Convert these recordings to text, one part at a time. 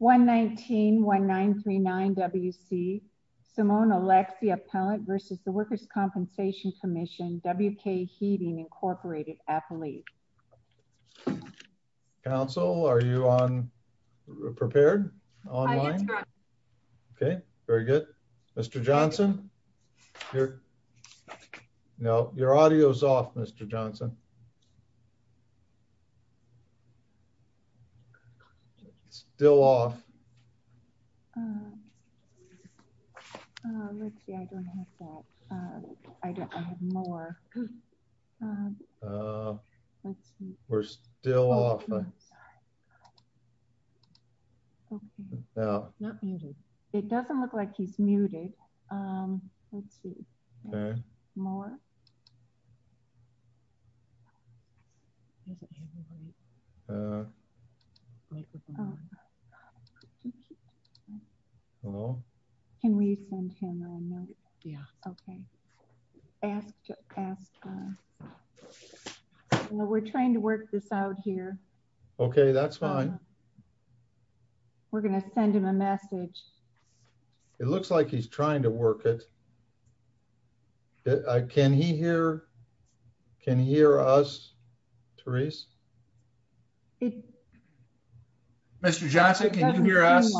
119-1939 WC Simone Aleksy Appellant versus the Workers' Compensation Commission WK Heating Incorporated Athlete. Council are you on prepared? Online? Okay very good. Mr. Johnson No your audio is off Mr. Johnson. Still off. We're still off. It doesn't look like he's on. Can we send him a note? Yeah. Okay. We're trying to work this out here. Okay that's fine. We're going to send him a message. It looks like he's trying to work it. Can he hear? Can he hear us? Therese? Mr. Johnson can you hear us?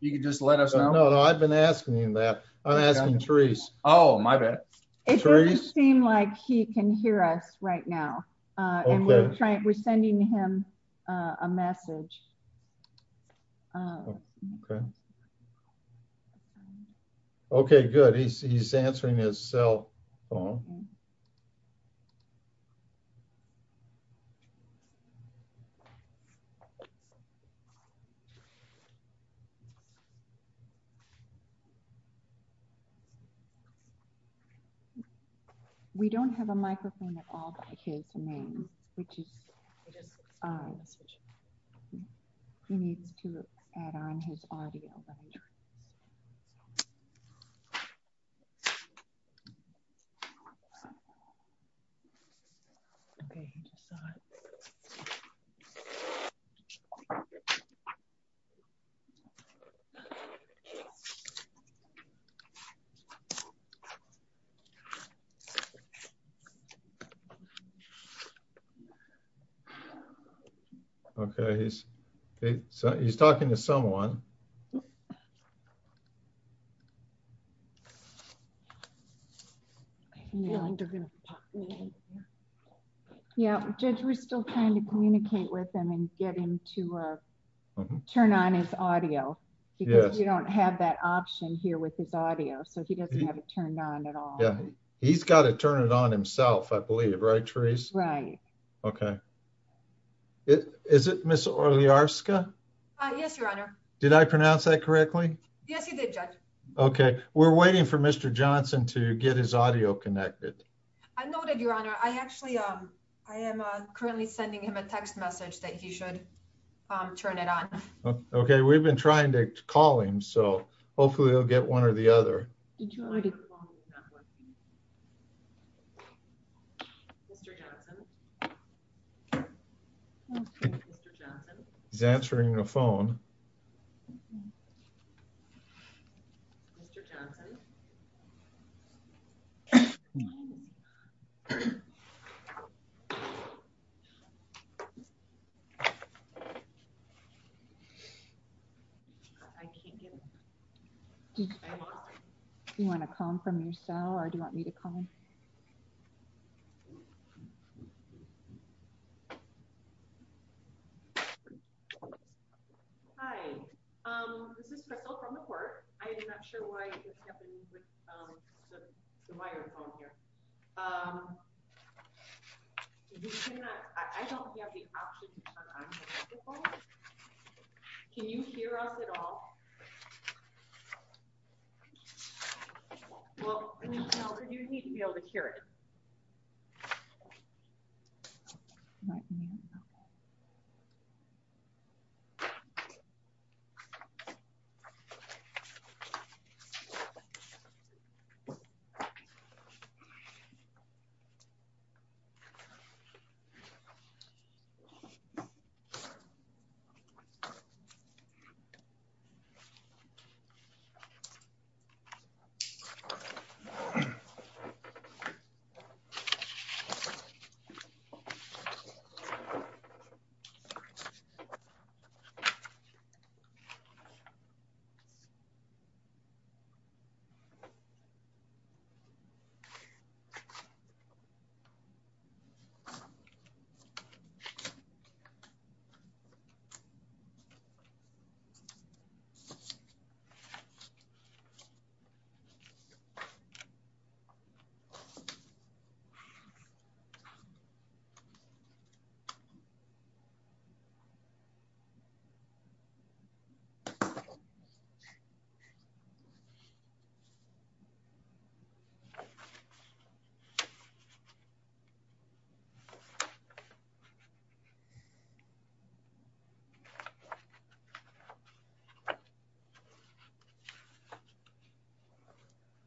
You can just let us know. No I've been asking him that. I'm asking Therese. Oh my bad. It doesn't seem like he can hear us right now. We're sending him a message. Okay good. He's answering his cell phone. We don't have a microphone at all by his name which is he needs to add on his audio. Okay he's talking to someone. Judge we're still trying to communicate with him and get him to turn on his audio. We don't have that option here with his audio so he doesn't have it turned on at all. He's got to turn it on himself I believe. Right Therese? Right. Okay. Is it Ms. Oliarska? Yes your honor. Did I pronounce that correctly? Yes you did judge. Okay we're waiting for Mr. Johnson to get his audio connected. I noted your honor. I actually I am currently sending him a text message that he should turn it on. Okay we've been trying to call him so hopefully he'll get one or the other. He's answering the phone. Do you want to call him from your cell or do you want me to call him? Hi this is Crystal from the court. I'm not sure why you can't use the microphone here. I don't have the option to turn on the microphone. Can you hear us at all? Well you need to be able to hear it.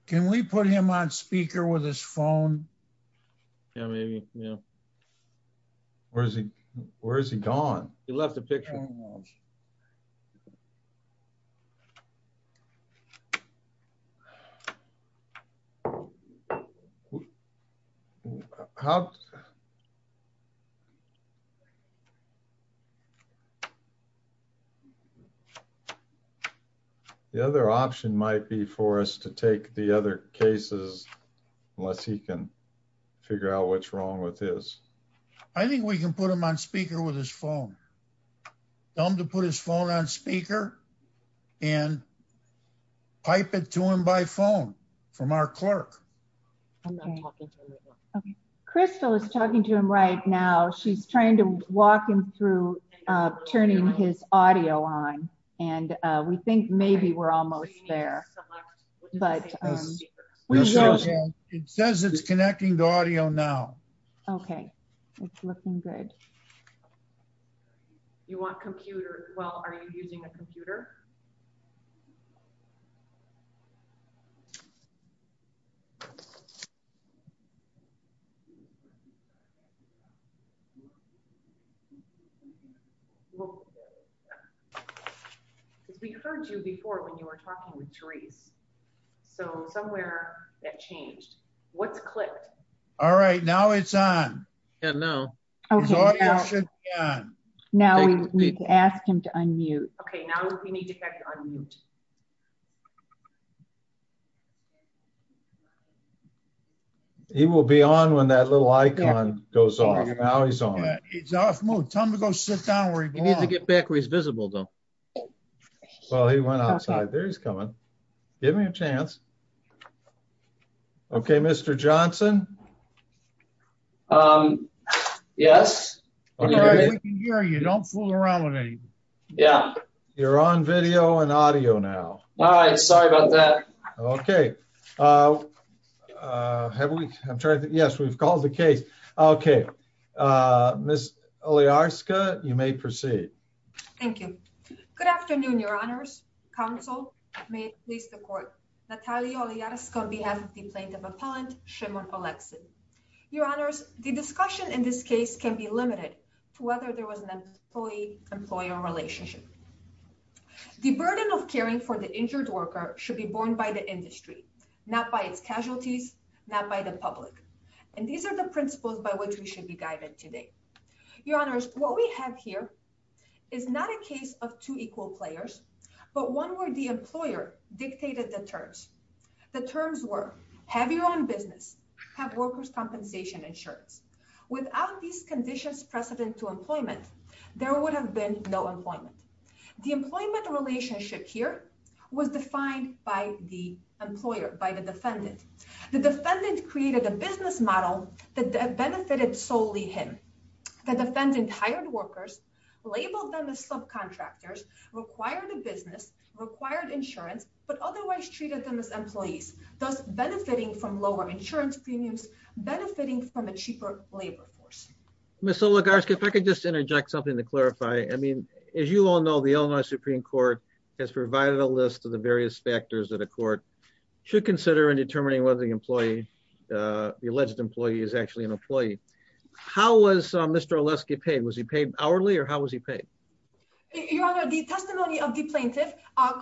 Can we put him on speaker with his phone? Yeah maybe. Where is he gone? He left a picture. The other option might be for us to take the other cases unless he can figure out what's wrong with his. I think we can put him on speaker with his phone. Tell him to put his phone on speaker and pipe it to him by phone from our clerk. Okay Crystal is talking to him right now. She's trying to walk him through turning his audio on and we think maybe we're almost there. It says it's connecting to audio now. Okay it's looking good. You want computer? Well are you using a computer? We heard you before when you were talking with Therese. So somewhere that changed. What's clicked? All right now it's on. Yeah now his audio should be on. Now we need to ask him to unmute. Okay now we need to have you unmute. He will be on when that little icon goes off. Now he's on. He's off mute. Tell him to go sit down where he belongs. You need to get back where he's visible though. Well he went outside. There he's coming. Give me a chance. Okay Mr. Johnson. Yes. We can hear you. Don't fool around with anything. Yeah you're on video and audio now. All right sorry about that. Okay have we I'm trying to yes we've called the case. Okay Miss Oliarska you may proceed. Thank you. Good afternoon your honors. Counsel may it please the court. Natalia Oliarska on behalf of the plaintiff appellant Shimon Olexin. Your honors the discussion in this case can be limited to whether there was an employee-employer relationship. The burden of caring for the injured worker should be borne by the industry not by its casualties not by the public and these are the principles by which we should be guided today. Your honors what we have here is not a case of two equal players but one where the employer dictated the terms. The terms were have your own business, have workers employment there would have been no employment. The employment relationship here was defined by the employer by the defendant. The defendant created a business model that benefited solely him. The defendant hired workers labeled them as subcontractors required a business required insurance but otherwise treated them as employees thus benefiting from lower insurance premiums Miss Oliarska if I could just interject something to clarify. I mean as you all know the Illinois Supreme Court has provided a list of the various factors that a court should consider in determining whether the employee uh the alleged employee is actually an employee. How was Mr. Oleski paid? Was he paid hourly or how was he paid? Your honor the testimony of the plaintiff uh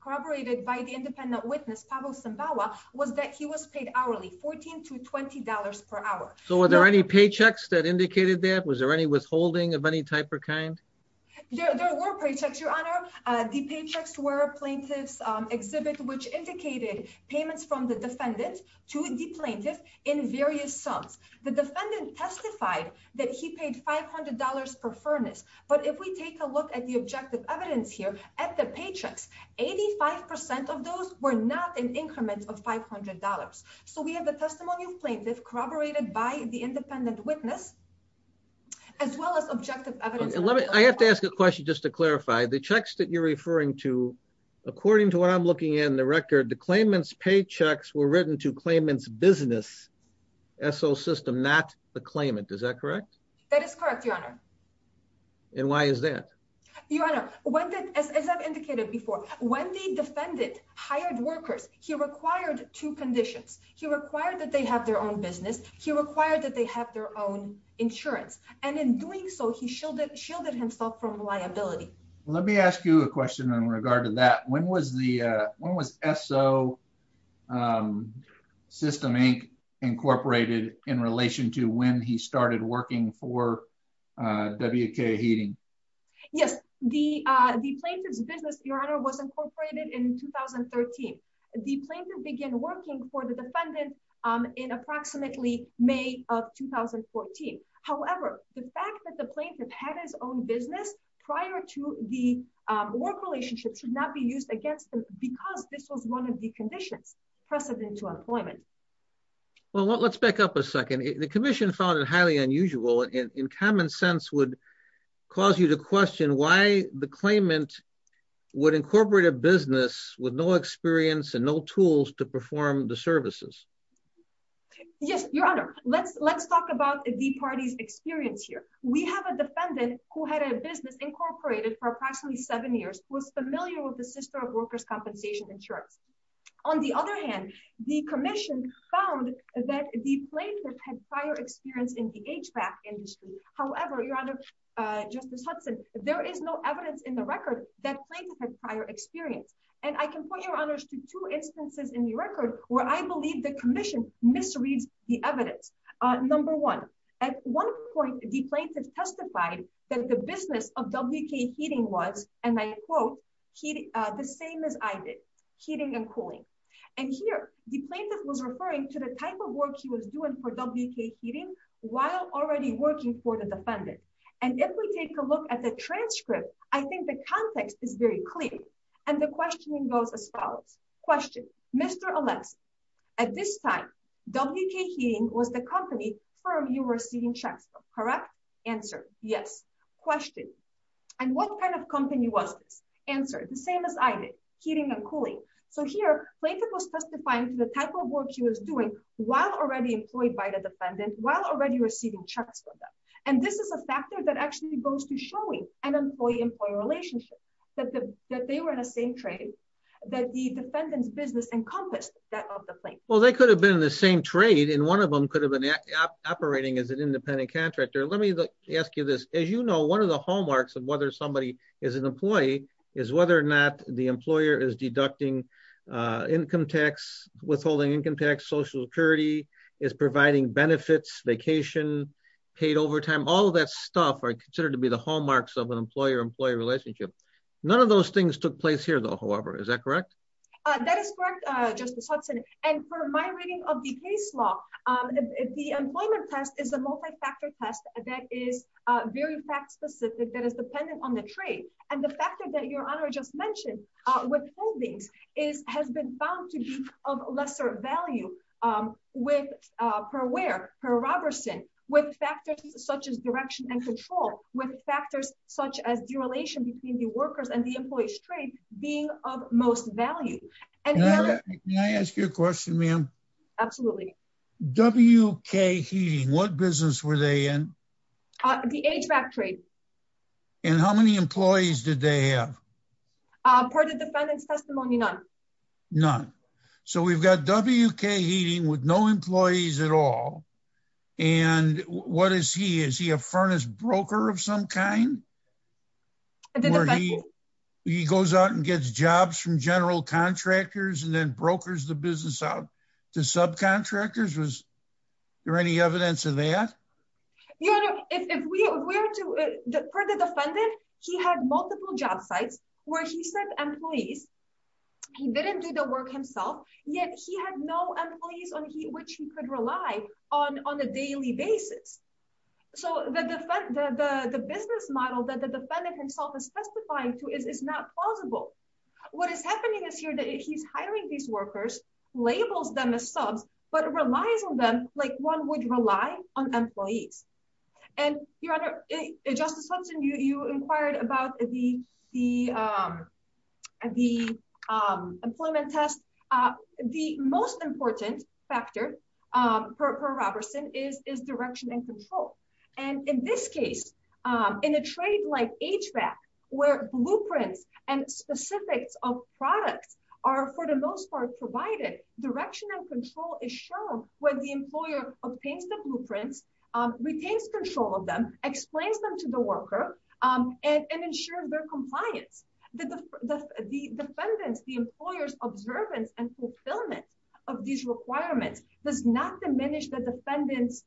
corroborated by the independent witness Pavel Sembawa was that he was paid hourly 14 to 20 per hour. So were there any paychecks that indicated that? Was there any withholding of any type or kind? There were paychecks your honor. The paychecks were plaintiff's exhibit which indicated payments from the defendant to the plaintiff in various sums. The defendant testified that he paid $500 per furnace but if we take a look at the objective evidence here at the paychecks 85 percent of those were not in increments of $500. So we have the testimony of plaintiff corroborated by the independent witness as well as objective evidence. Let me I have to ask a question just to clarify the checks that you're referring to according to what I'm looking at in the record the claimant's paychecks were written to claimant's business SO system not the claimant is that correct? That is correct your honor. And why is that? Your honor what did as I've before when the defendant hired workers he required two conditions. He required that they have their own business. He required that they have their own insurance and in doing so he shielded himself from liability. Let me ask you a question in regard to that. When was the when was SO System Inc incorporated in relation to when he started working for WK Heating? Yes the plaintiff's business your honor was incorporated in 2013. The plaintiff began working for the defendant in approximately May of 2014. However the fact that the plaintiff had his own business prior to the work relationship should not be used against them because this was one of the conditions precedent to employment. Well let's back up a second. The commission found it highly unusual and in common sense would cause you to question why the claimant would incorporate a business with no experience and no tools to perform the services. Yes your honor let's let's talk about the party's experience here. We have a defendant who had a business incorporated for approximately seven years who was familiar with the sister of workers compensation insurance. On the other hand the commission found that the plaintiff had prior experience in the HVAC industry. However your honor Justice Hudson there is no evidence in the record that plaintiff had prior experience and I can point your honors to two instances in the record where I believe the commission misreads the evidence. Number one at one point the plaintiff testified that the business of WK Heating was and I quote the same as I did heating and cooling. And here the plaintiff was referring to the type of work he was doing for WK Heating while already working for the defendant. And if we take a look at the transcript I think the context is very clear and the questioning goes as follows. Question Mr. Alexa at this time WK Heating was the company firm you were seeing checks correct? Answer yes. Question and what kind of company was this? Answer the same as I did heating and cooling. So here plaintiff was testifying to the type of work she was doing while already employed by the defendant while already receiving checks for them. And this is a factor that actually goes to showing an employee-employee relationship that the that they were in the same trade that the defendant's business encompassed that of the plaintiff. Well they could have been in the same trade and one of them could have been operating as an independent contractor. Let me ask you this as you know one of the hallmarks of whether somebody is an employee is whether or not the employer is deducting income tax withholding income tax social security is providing benefits vacation paid overtime all of that stuff are considered to be the hallmarks of an employer-employee relationship. None of those things took place here though however is that correct? That is correct Justice Hudson and for my reading of the case law the employment test is a multi-factor test that is very fact-specific that is dependent on the trade and the factor that your honor just mentioned with holdings is has been found to be of lesser value with per where per Robertson with factors such as direction and control with factors such as derelation between the workers and the employees trade being of most value. Can I ask you a question ma'am? Absolutely. WK Heating what business were they in? The HVAC trade. And how many employees did they have? Part of the defendant's testimony none. None so we've got WK Heating with no employees at all and what is he a furnace broker of some kind? He goes out and gets jobs from general contractors and then brokers the business out to subcontractors was there any evidence of that? You know if we were to for the defendant he had multiple job sites where he said employees he didn't do the work yet he had no employees on which he could rely on on a daily basis. So the business model that the defendant himself is testifying to is not plausible. What is happening is here that he's hiring these workers labels them as subs but relies on them like one would rely on employees and your honor justice Hudson you inquired about the the employment test. The most important factor per Robertson is direction and control and in this case in a trade like HVAC where blueprints and specifics of products are for the most part provided direction and control is shown when the employer obtains the blueprints, retains control of them, explains them to the worker and ensures their compliance. The defendant's the employer's observance and fulfillment of these requirements does not diminish the defendant's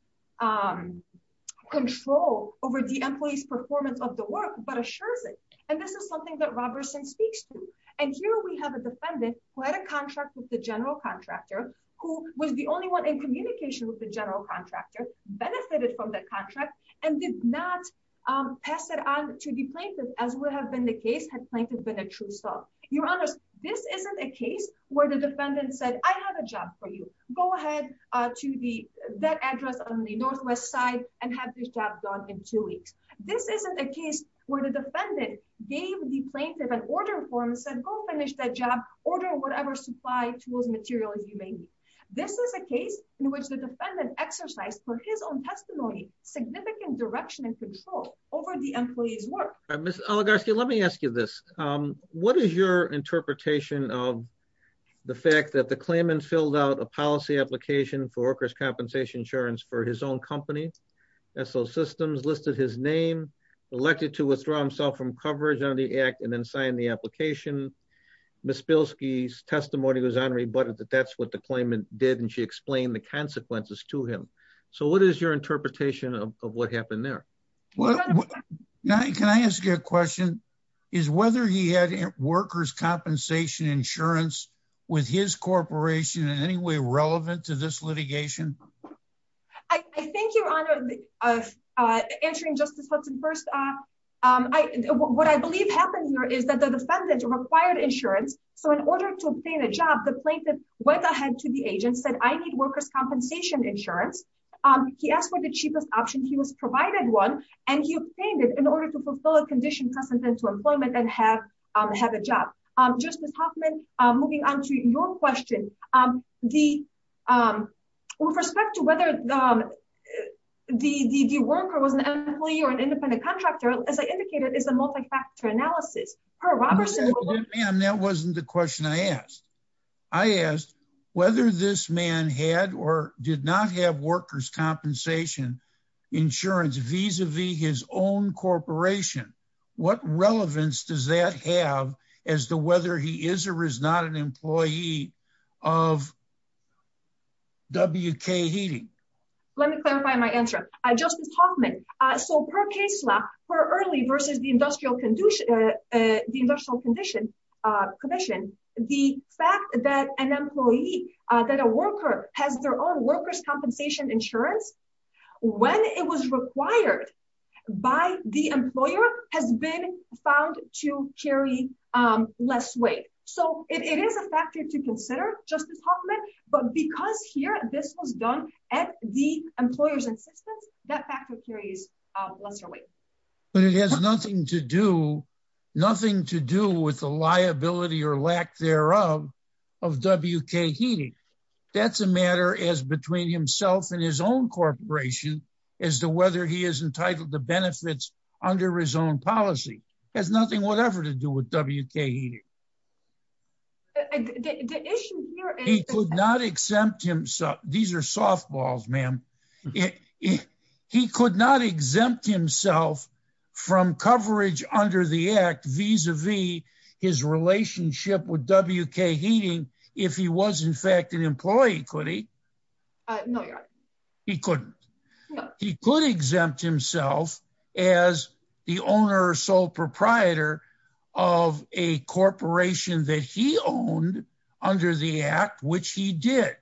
control over the employee's performance of the work but assures it and this is something that Robertson speaks to and here we have a defendant who had a contract with the general contractor who was the only one in communication with the general contractor benefited from that contract and did not pass it on to the plaintiff as would have been the case had plaintiff been a true sub. Your honors this isn't a case where the defendant said I have a job for you go ahead to the that address on the northwest side and have this job done in two weeks. This isn't a case where the defendant gave the plaintiff an order form and said go finish that job order whatever supply tools material as you may need. This is a case in which the defendant exercised for his own testimony significant direction and control over the employee's work. Ms. Oligarski let me ask you this what is your interpretation of the fact that the claimant filled out a policy application for workers compensation insurance for his own company S.O. Systems listed his name elected to withdraw himself from coverage on the act and then sign the application. Ms. Spilsky's testimony was that that's what the claimant did and she explained the consequences to him. So what is your interpretation of what happened there? Now can I ask you a question is whether he had workers compensation insurance with his corporation in any way relevant to this litigation? I think your honor uh uh answering justice Hudson first uh um I what I believe happened here is that the defendant required insurance so in order to obtain a job the plaintiff went ahead to the agent said I need workers compensation insurance um he asked for the cheapest option he was provided one and he obtained it in order to fulfill a condition precedent to employment and have um have a job. Um justice Hoffman uh moving on to your question um the um with respect to whether um the the worker was an employee or an independent contractor as I indicated is a multi-factor analysis. That wasn't the question I asked I asked whether this man had or did not have workers compensation insurance vis-a-vis his own corporation what relevance does that have as to whether he is or is not an employee of WK Heating? Let me clarify my answer uh justice Hoffman uh so per case law for early versus the industrial condition uh the industrial condition uh commission the fact that an employee uh that a worker has their own workers compensation insurance when it was required by the employer has been found to carry um less weight so it is a factor to consider justice Hoffman but because here this was done at the employer's insistence that factor carries lesser weight. But it has nothing to do nothing to do with the liability or lack thereof of WK Heating that's a matter as between himself and his own corporation as to whether he is entitled to benefits under his own policy has nothing whatever to do with WK Heating. The issue here he could not exempt himself these are softballs ma'am he could not exempt himself from coverage under the act vis-a-vis his relationship with WK Heating if he was in fact an employee could he uh no you're right he couldn't he could exempt himself as the owner or sole proprietor of a corporation that he owned under the act which he did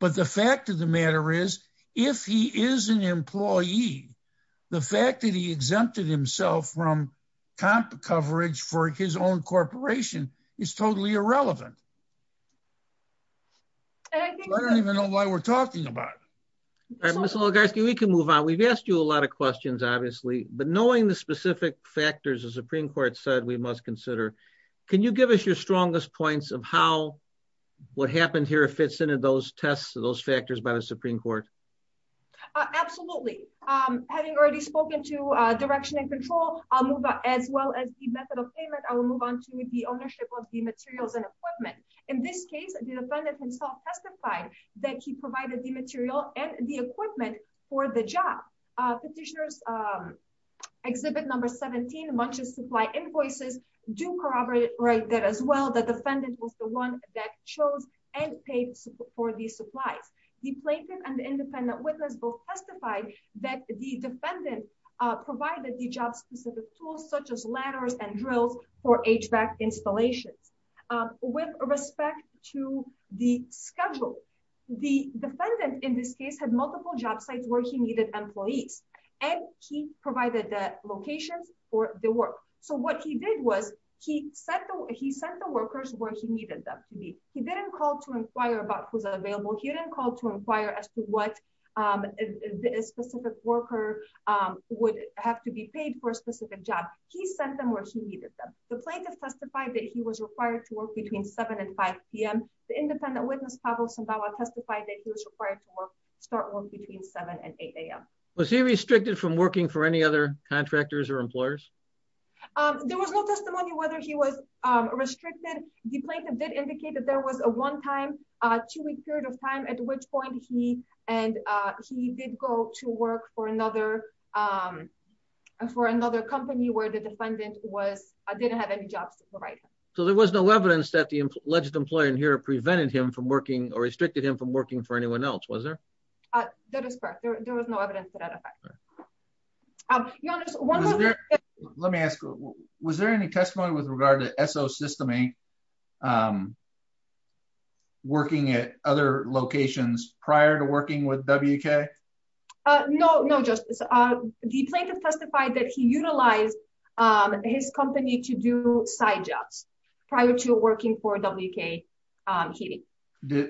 but the fact of the matter is if he is an employee the fact that he exempted himself from coverage for his own corporation is totally irrelevant. I don't even know why we're talking about it. All right Mr. Logarski we can move on we've a lot of questions obviously but knowing the specific factors the Supreme Court said we must consider can you give us your strongest points of how what happened here fits into those tests those factors by the Supreme Court? Absolutely having already spoken to direction and control I'll move on as well as the method of payment I will move on to the ownership of the materials and equipment in this case the defendant himself testified that he provided the material and the job. Petitioners exhibit number 17 munches supply invoices do corroborate that as well the defendant was the one that chose and paid for these supplies. The plaintiff and the independent witness both testified that the defendant provided the job specific tools such as ladders and drills for HVAC installations. With respect to the schedule the defendant in this case had multiple job sites where he needed employees and he provided the locations for the work so what he did was he sent the workers where he needed them to be. He didn't call to inquire about who's available he didn't call to inquire as to what a specific worker would have to be paid for a specific job he sent them where he needed them. The plaintiff testified that he was required to work between 7 and 5 p.m. the independent witness Pavel Sambawa testified that he was required to start work between 7 and 8 a.m. Was he restricted from working for any other contractors or employers there was no testimony whether he was restricted the plaintiff did indicate that there was a one time uh two week period of time at which point he and uh he did go to work for another um for another company where the defendant was didn't have any jobs right so there was no evidence that the alleged employer in here prevented him from working or restricted him from working for anyone else was there uh that is correct there was no evidence to that effect um let me ask was there any testimony with regard to so system a um working at other locations prior to working with wk uh no no justice uh the plaintiff testified that he utilized um his company to do side jobs prior to working for wk um heating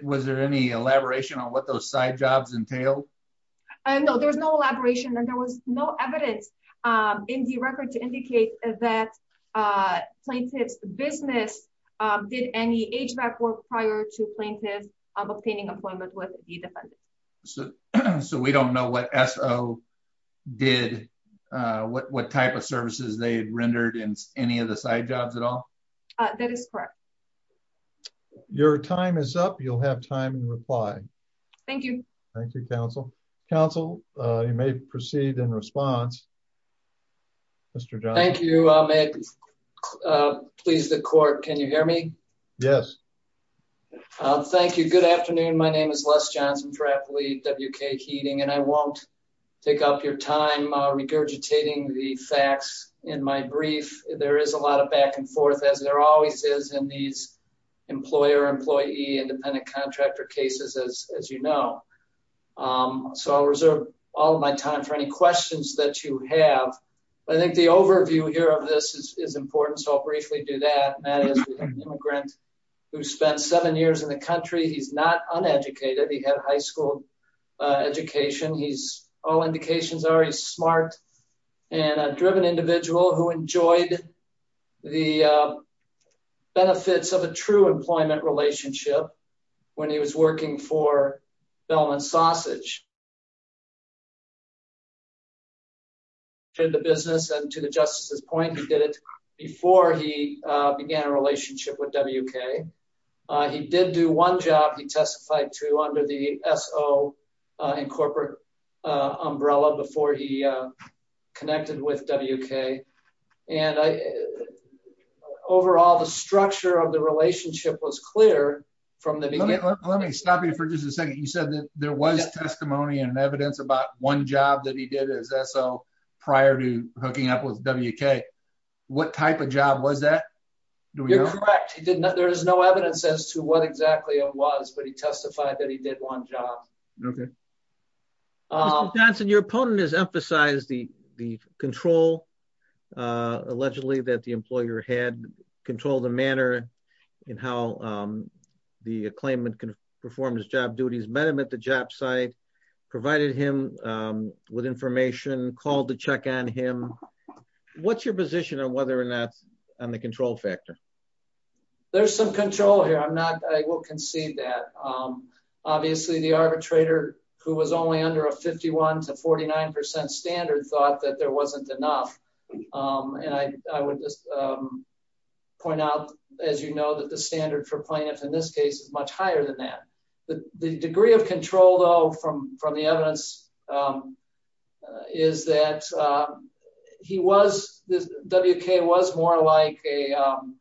was there any elaboration on what those side jobs entailed i know there was no elaboration and there was no evidence um in the record to indicate that uh plaintiff's business um did any hvac work prior to plaintiff obtaining employment with the defendant so so we don't know what so did uh what what type of services they had rendered in any of the side jobs at all uh that is correct your time is up you'll have time and reply thank you thank you counsel counsel uh you may proceed in response mr john thank you uh may uh please the court can you hear me yes uh thank you good afternoon my name is les johnson trappley wk heating and i won't take up your time uh regurgitating the facts in my brief there is a lot of back and forth as there always is in these employer employee independent contractor cases as as you know um so i'll reserve all my time for any questions that you have i think the overview here of this is important so i'll briefly do that matt is an immigrant who spent seven years in the country he's not uneducated he had high school education he's all indications are he's smart and a driven individual who enjoyed the benefits of a true employment relationship when he was working for bellman sausage did the business and to the justice's point he did it before he began a relationship with wk he did do one job he testified to under the so uh in corporate umbrella before he connected with wk and i overall the structure of the relationship was clear from the beginning let me stop you for just a second you said that there was testimony and evidence about one job that he did as so prior to hooking up with wk what type of job was that you're correct he did not there is no evidence as to what exactly it was but he testified that he did one job okay uh johnson your opponent has emphasized the the control uh allegedly that the employer had controlled the manner in how um the claimant can perform his job duties met him at the job site provided him um with information called to check on him what's your position on whether or not on the control factor there's some control here i'm not i will concede that um obviously the arbitrator who was only under a 51 to 49 standard thought that there wasn't enough um and i i would just um point out as you know that the standard for plaintiffs in this case is much higher than the the degree of control though from from the evidence um is that uh he was this wk was more like a um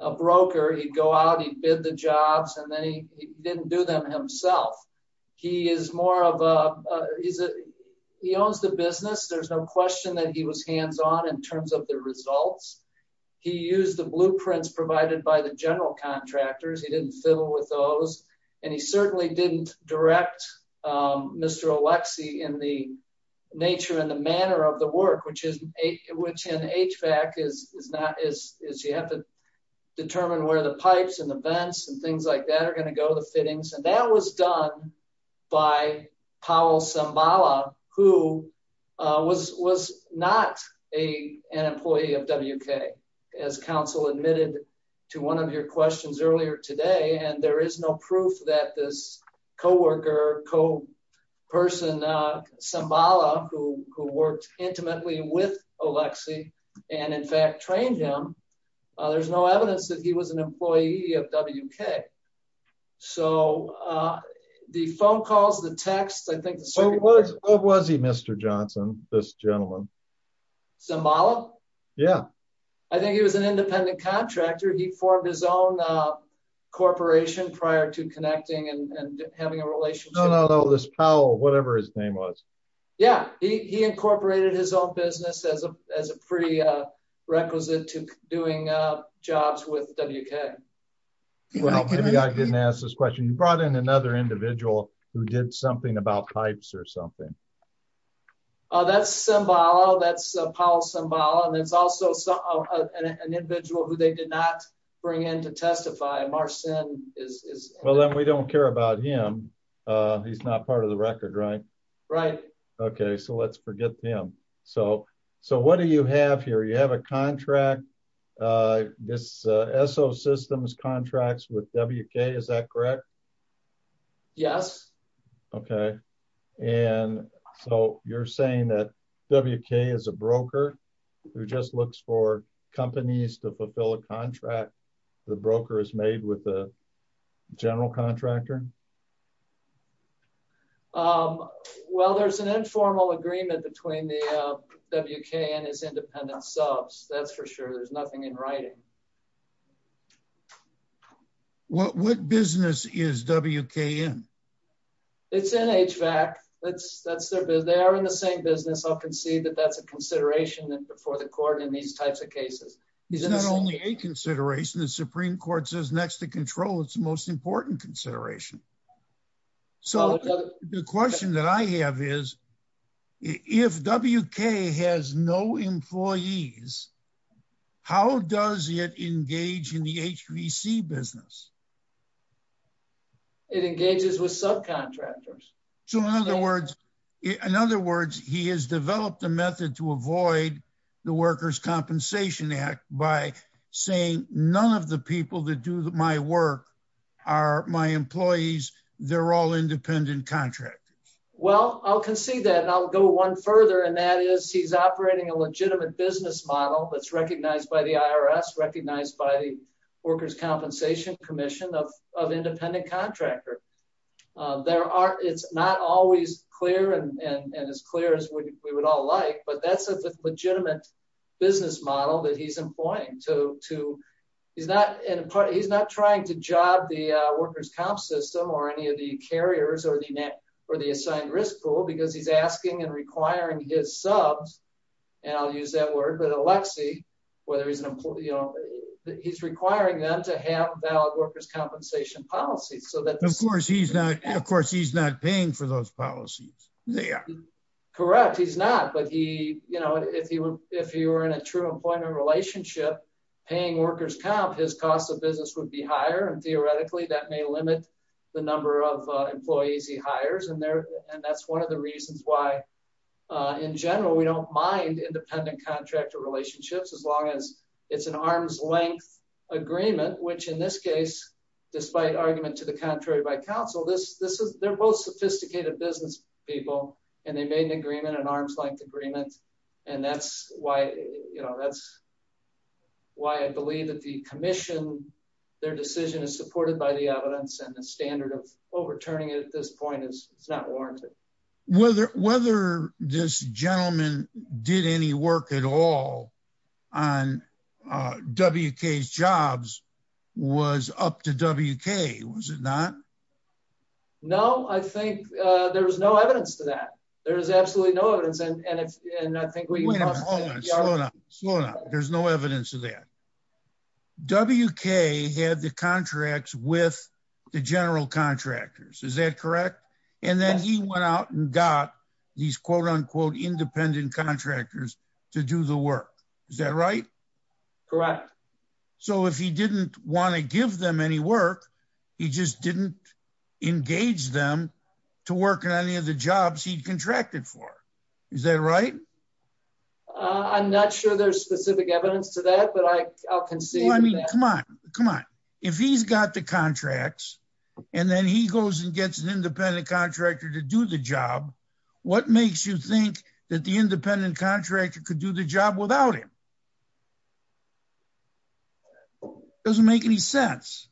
a broker he'd go out he'd bid the jobs and then he didn't do them himself he is more of a he's a he owns the business there's no question that he was hands-on in terms of the results he used the blueprints provided by the general contractors he didn't fiddle with those and he certainly didn't direct um mr olexi in the nature and the manner of the work which is which in hvac is is not as is you have to determine where the pipes and the vents and things like that are going to go the fittings and that was done by powell sambala who uh was was not a an employee of wk as council admitted to one of your questions earlier today and there is no proof that this co-worker co-person uh sambala who who worked intimately with olexi and in fact trained him there's no evidence that he was an employee of wk so uh the phone calls the text i sambala yeah i think he was an independent contractor he formed his own uh corporation prior to connecting and having a relationship no no this powell whatever his name was yeah he he incorporated his own business as a as a pretty uh requisite to doing uh jobs with wk well maybe i didn't ask this question you brought in another individual who did something about pipes or something oh that's sambala that's paul sambala and it's also an individual who they did not bring in to testify marcin is well then we don't care about him uh he's not part of the record right right okay so let's forget him so so what do you have here you have a contract uh this uh systems contracts with wk is that correct yes okay and so you're saying that wk is a broker who just looks for companies to fulfill a contract the broker is made with a general contractor um well there's an informal agreement between the uh wk and his independent subs that's for there's nothing in writing what what business is wkn it's nhvac that's that's their business they are in the same business i'll concede that that's a consideration that before the court in these types of cases it's not only a consideration the supreme court says next to control it's the most important consideration so the question that i have is if wk has no employees how does it engage in the hvc business it engages with subcontractors so in other words in other words he has developed a method to avoid the workers compensation act by saying none of the people that do my work are my employees they're all independent contractors well i'll concede that and i'll go one further and that is he's operating a legitimate business model that's recognized by the irs recognized by the workers compensation commission of of independent contractor uh there are it's not always clear and and as clear as we would all like but that's a legitimate business model that he's employing to to he's not in a part he's not trying to job the workers comp system or any of the carriers or the net or the assigned risk pool because he's asking and requiring his subs and i'll use that word but alexi whether he's an employee you know he's requiring them to have valid workers compensation policies so that of course he's not of course he's not paying for those policies they are correct he's not but he you know if he were in a true employment relationship paying workers comp his cost of business would be higher and theoretically that may limit the number of employees he hires and there and that's one of the reasons why in general we don't mind independent contractor relationships as long as it's an arm's length agreement which in this case despite argument to the contrary by council this this is they're both sophisticated business people and they made an agreement an arm's length agreement and that's why you know that's why i believe that the commission their decision is supported by the evidence and the standard of overturning it at this point is it's not warranted whether whether this gentleman did any work at all on wk's jobs was up to wk was it not no i think uh there was no evidence to that there is absolutely no evidence and and i think there's no evidence of that wk had the contracts with the general contractors is that correct and then he went out and got these quote-unquote independent contractors to do the work is that correct so if he didn't want to give them any work he just didn't engage them to work in any of the jobs he'd contracted for is that right i'm not sure there's specific evidence to that but i i'll concede i mean come on come on if he's got the contracts and then he goes and gets an independent contractor to do the job what makes you think that the independent contractor could do the job without him doesn't make any sense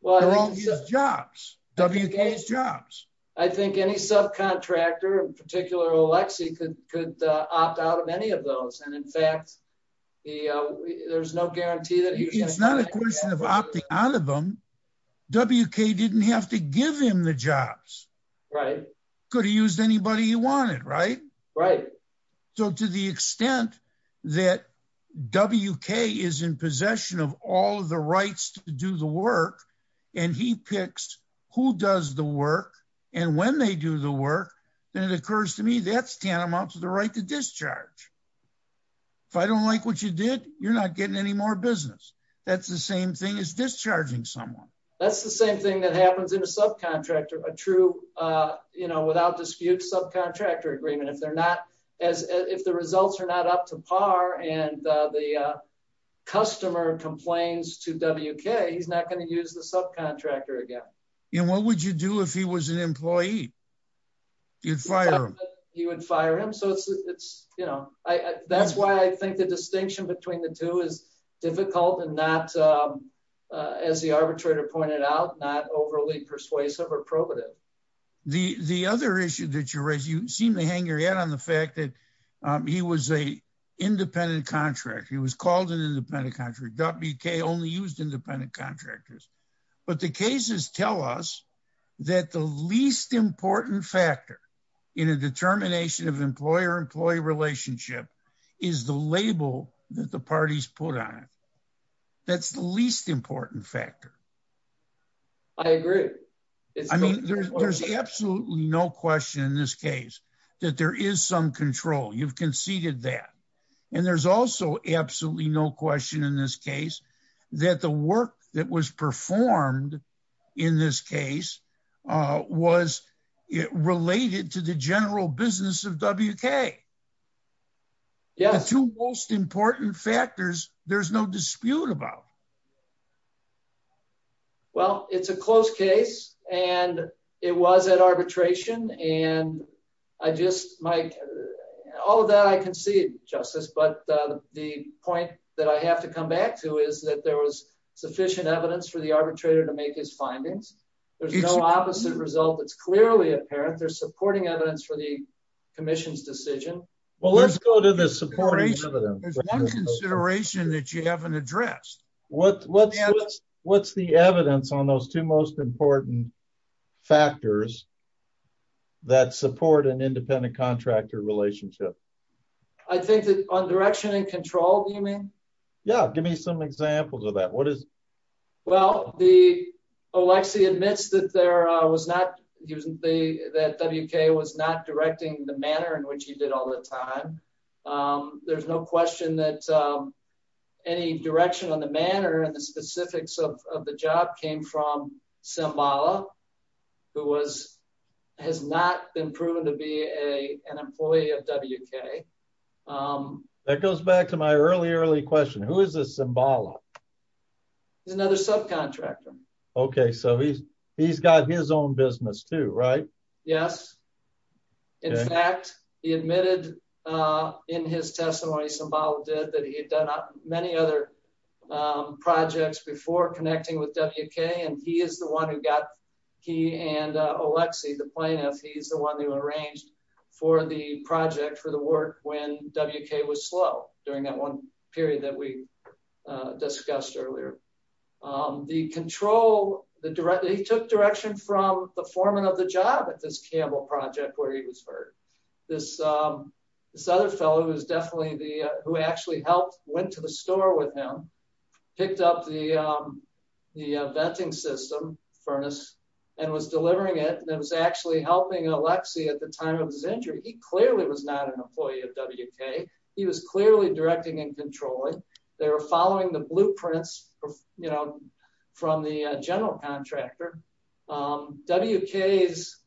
well they're all his jobs wk's jobs i think any subcontractor in particular alexi could could opt out of any of those and in fact the uh there's no guarantee that it's not a question of opting out of them wk didn't have to give him the jobs right could have used anybody he wanted right right so to the extent that wk is in possession of all the rights to do the work and he picks who does the work and when they do the work then it occurs to me that's tantamount to the right to discharge if i don't like what you did you're not getting any more business that's the same thing as discharging someone that's the same that happens in a subcontractor a true uh you know without dispute subcontractor agreement if they're not as if the results are not up to par and uh the uh customer complains to wk he's not going to use the subcontractor again and what would you do if he was an employee you'd fire him he would fire him so it's it's you know i that's why i think the distinction between the two is difficult and not as the arbitrator pointed out not overly persuasive or probative the the other issue that you raise you seem to hang your head on the fact that he was a independent contractor he was called an independent country wk only used independent contractors but the cases tell us that the least important factor in a determination of employer employee relationship is the label that the parties put on it that's the least important factor i agree i mean there's absolutely no question in this case that there is some control you've conceded that and there's also absolutely no question in this case that the work that was performed in this case uh was it related to the general business of wk yeah the two most important factors there's no dispute about well it's a close case and it was at arbitration and i just my all of that i concede justice but the point that i have to come back to is that there was sufficient evidence for the arbitrator to make his findings there's no opposite result that's clearly apparent they're supporting evidence for the commission's decision well let's go to the support there's one consideration that you haven't addressed what what's what's the evidence on those two most important factors that support an independent contractor relationship i think that on direction and control do you mean yeah give me some examples of that what is well the alexi admits that there uh was not he wasn't the that wk was not directing the manner in which he did all the time um there's no question that any direction on the manner and the specifics of the job came from simbala who was has not been proven to be a an employee of wk um that goes back to my early early question who is this simbala he's another subcontractor okay so he's he's got his own business too right yes in fact he admitted uh in his testimony simbala did that he had done many other projects before connecting with wk and he is the one who got he and alexi the plaintiff he's the discussed earlier um the control the direct he took direction from the foreman of the job at this campbell project where he was hurt this um this other fellow who is definitely the who actually helped went to the store with him picked up the um the venting system furnace and was delivering it and it was actually helping alexi at the time of his injury he clearly was not an following the blueprints you know from the general contractor um wk's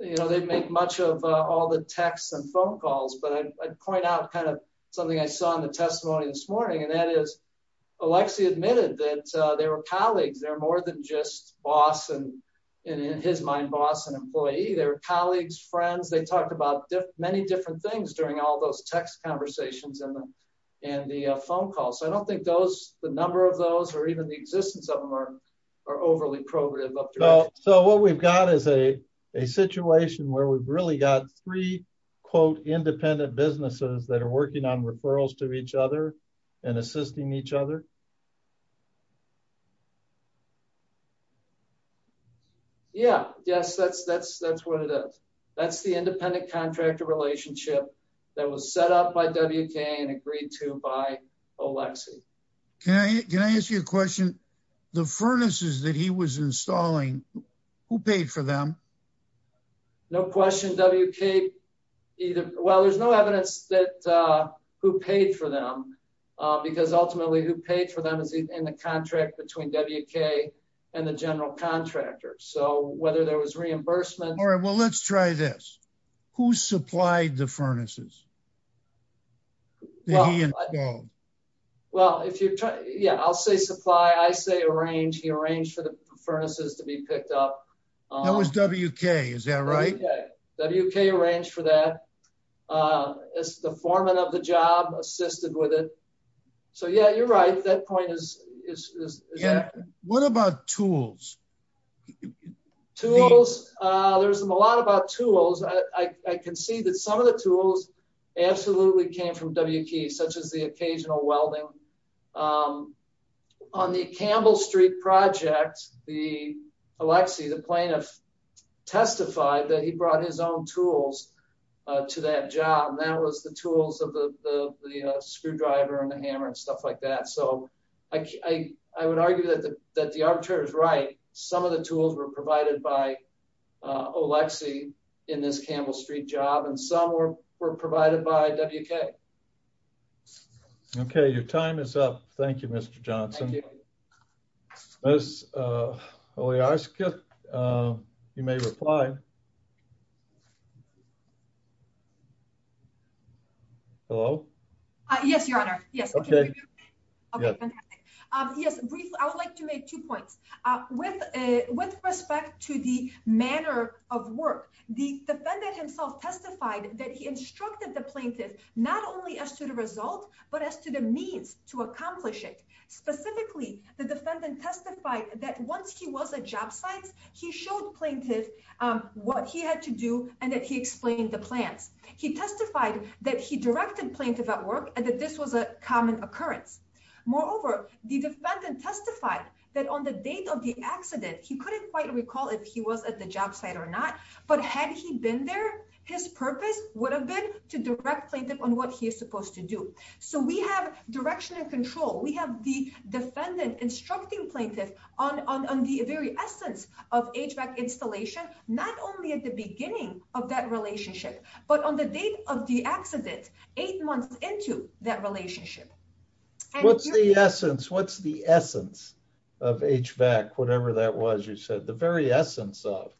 you know they make much of all the texts and phone calls but i'd point out kind of something i saw in the testimony this morning and that is alexi admitted that they were colleagues they're more than just boss and in his mind boss and employee they were colleagues friends they talked about many different things during all those text conversations and the phone calls so i don't think those the number of those or even the existence of them are are overly progressive so what we've got is a a situation where we've really got three quote independent businesses that are working on referrals to each other and assisting each other yeah yes that's that's that's what it is that's the independent contractor relationship that was set up by wk and agreed to by alexi can i can i ask you a question the furnaces that he was installing who paid for them no question wk either well there's no evidence that uh paid for them because ultimately who paid for them is in the contract between wk and the general contractor so whether there was reimbursement all right well let's try this who supplied the furnaces well well if you're trying yeah i'll say supply i say arrange he arranged for the furnaces to be picked up that was wk is that right wk arranged for that uh it's the foreman of the job assisted with it so yeah you're right that point is is what about tools tools uh there's a lot about tools i i can see that some of the tools absolutely came from wk such as the occasional welding um on the campbell street project the alexi plaintiff testified that he brought his own tools uh to that job and that was the tools of the the screwdriver and the hammer and stuff like that so i i would argue that the that the arbitrator is right some of the tools were provided by olexi in this campbell street job and some were were you may reply hello uh yes your honor yes okay okay um yes briefly i would like to make two points uh with a with respect to the manner of work the defendant himself testified that he instructed the plaintiff not only as to the result but as to the means to accomplish it specifically the defendant testified that once he was at job sites he showed plaintiff um what he had to do and that he explained the plans he testified that he directed plaintiff at work and that this was a common occurrence moreover the defendant testified that on the date of the accident he couldn't quite recall if he was at the job site or not but had he been there his purpose would have been to direct plaintiff on what he is supposed to do so we have direction and control we have the defendant instructing on on the very essence of hvac installation not only at the beginning of that relationship but on the date of the accident eight months into that relationship what's the essence what's the essence of hvac whatever that was you said the very essence of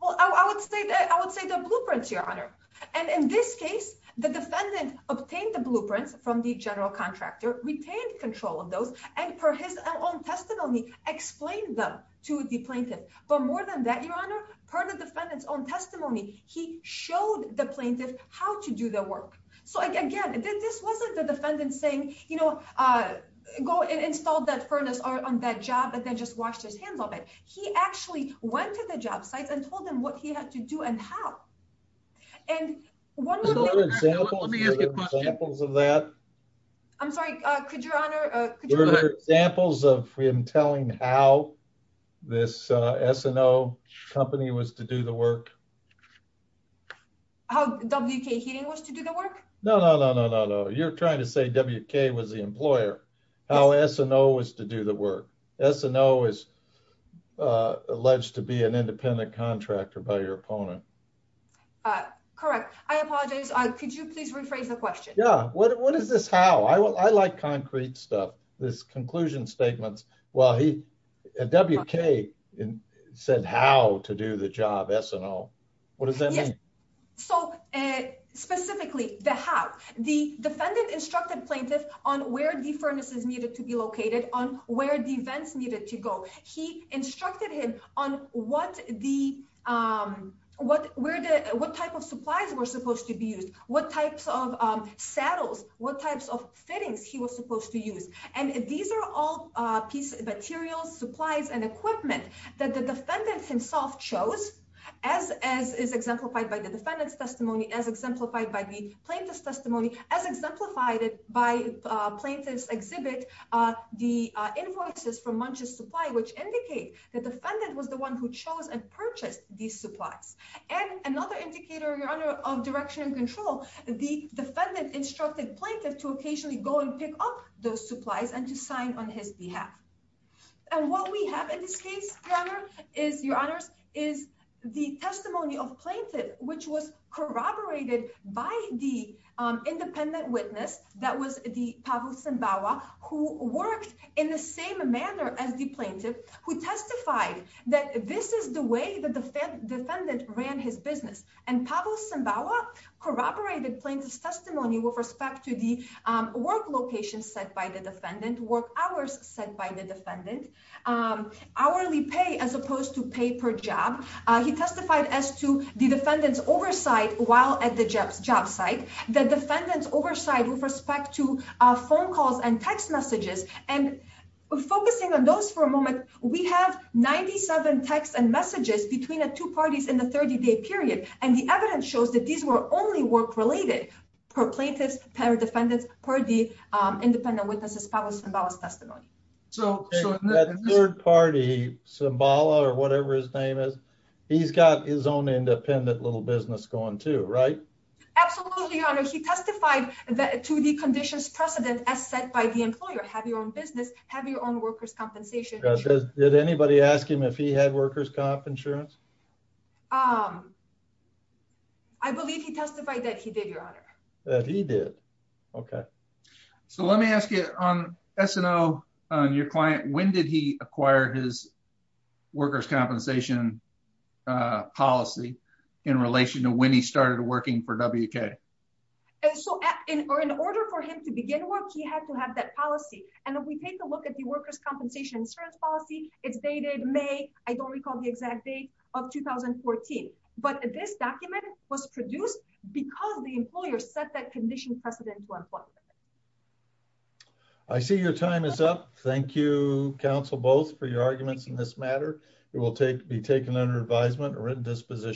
well i would say that i would say the blueprints your honor and in this case the defendant obtained the blueprints from the general retained control of those and per his own testimony explained them to the plaintiff but more than that your honor per the defendant's own testimony he showed the plaintiff how to do the work so again this wasn't the defendant saying you know uh go and install that furnace on that job and then just washed his hands of it he actually went to the job sites and told them what he had to do and how and one more example of that i'm sorry uh could your honor uh examples of him telling how this uh sno company was to do the work how wk heating was to do the work no no no no no you're trying to say wk was the employer how sno was to do the work sno is uh alleged to be an independent contractor by your opponent uh correct i apologize could you please rephrase the question yeah what is this how i like concrete stuff this conclusion statements well he wk said how to do the job sno what does that mean so uh specifically the how the defendant instructed plaintiff on where the furnace is needed to be located on where the events needed to go he instructed him on what the um what where the what type of supplies were supposed to be used what types of um saddles what types of fittings he was supposed to use and these are all uh piece materials supplies and equipment that the defendant himself chose as as is exemplified by the defendant's testimony as exemplified by the plaintiff's testimony as exemplified by plaintiff's the uh invoices from munch's supply which indicate the defendant was the one who chose and purchased these supplies and another indicator your honor of direction and control the defendant instructed plaintiff to occasionally go and pick up those supplies and to sign on his behalf and what we have in this case your honor is your honors is the testimony of plaintiff which was corroborated by the um independent witness that was the pavel simbawa who worked in the same manner as the plaintiff who testified that this is the way that the defendant ran his business and pavel simbawa corroborated plaintiff's testimony with respect to the um work location set by the defendant work hours set by the defendant um hourly pay as opposed to pay per job he testified as to the defendant's oversight while at the job site the defendant's oversight with respect to uh phone calls and text messages and focusing on those for a moment we have 97 texts and messages between the two parties in the 30-day period and the evidence shows that these were only work related per plaintiff's parade defendants per the um independent witnesses testimony so that third party simbala or whatever his name is he's got his own independent little business going too right absolutely your honor he testified that to the conditions precedent as set by the employer have your own business have your own workers compensation did anybody ask him if he had workers comp insurance um i believe he testified that he did your honor that he did okay so let me ask you on snl on your client when did he acquire his workers compensation uh policy in relation to when he started working for wk and so in or in order for him to begin work he had to have that policy and if we take a look at the workers compensation insurance policy it's dated may i don't recall the exact date of 2014 but this document was produced because the employer set that condition precedent to employment i see your time is up thank you counsel both for your arguments in this matter it will take be taken under advisement or written disposition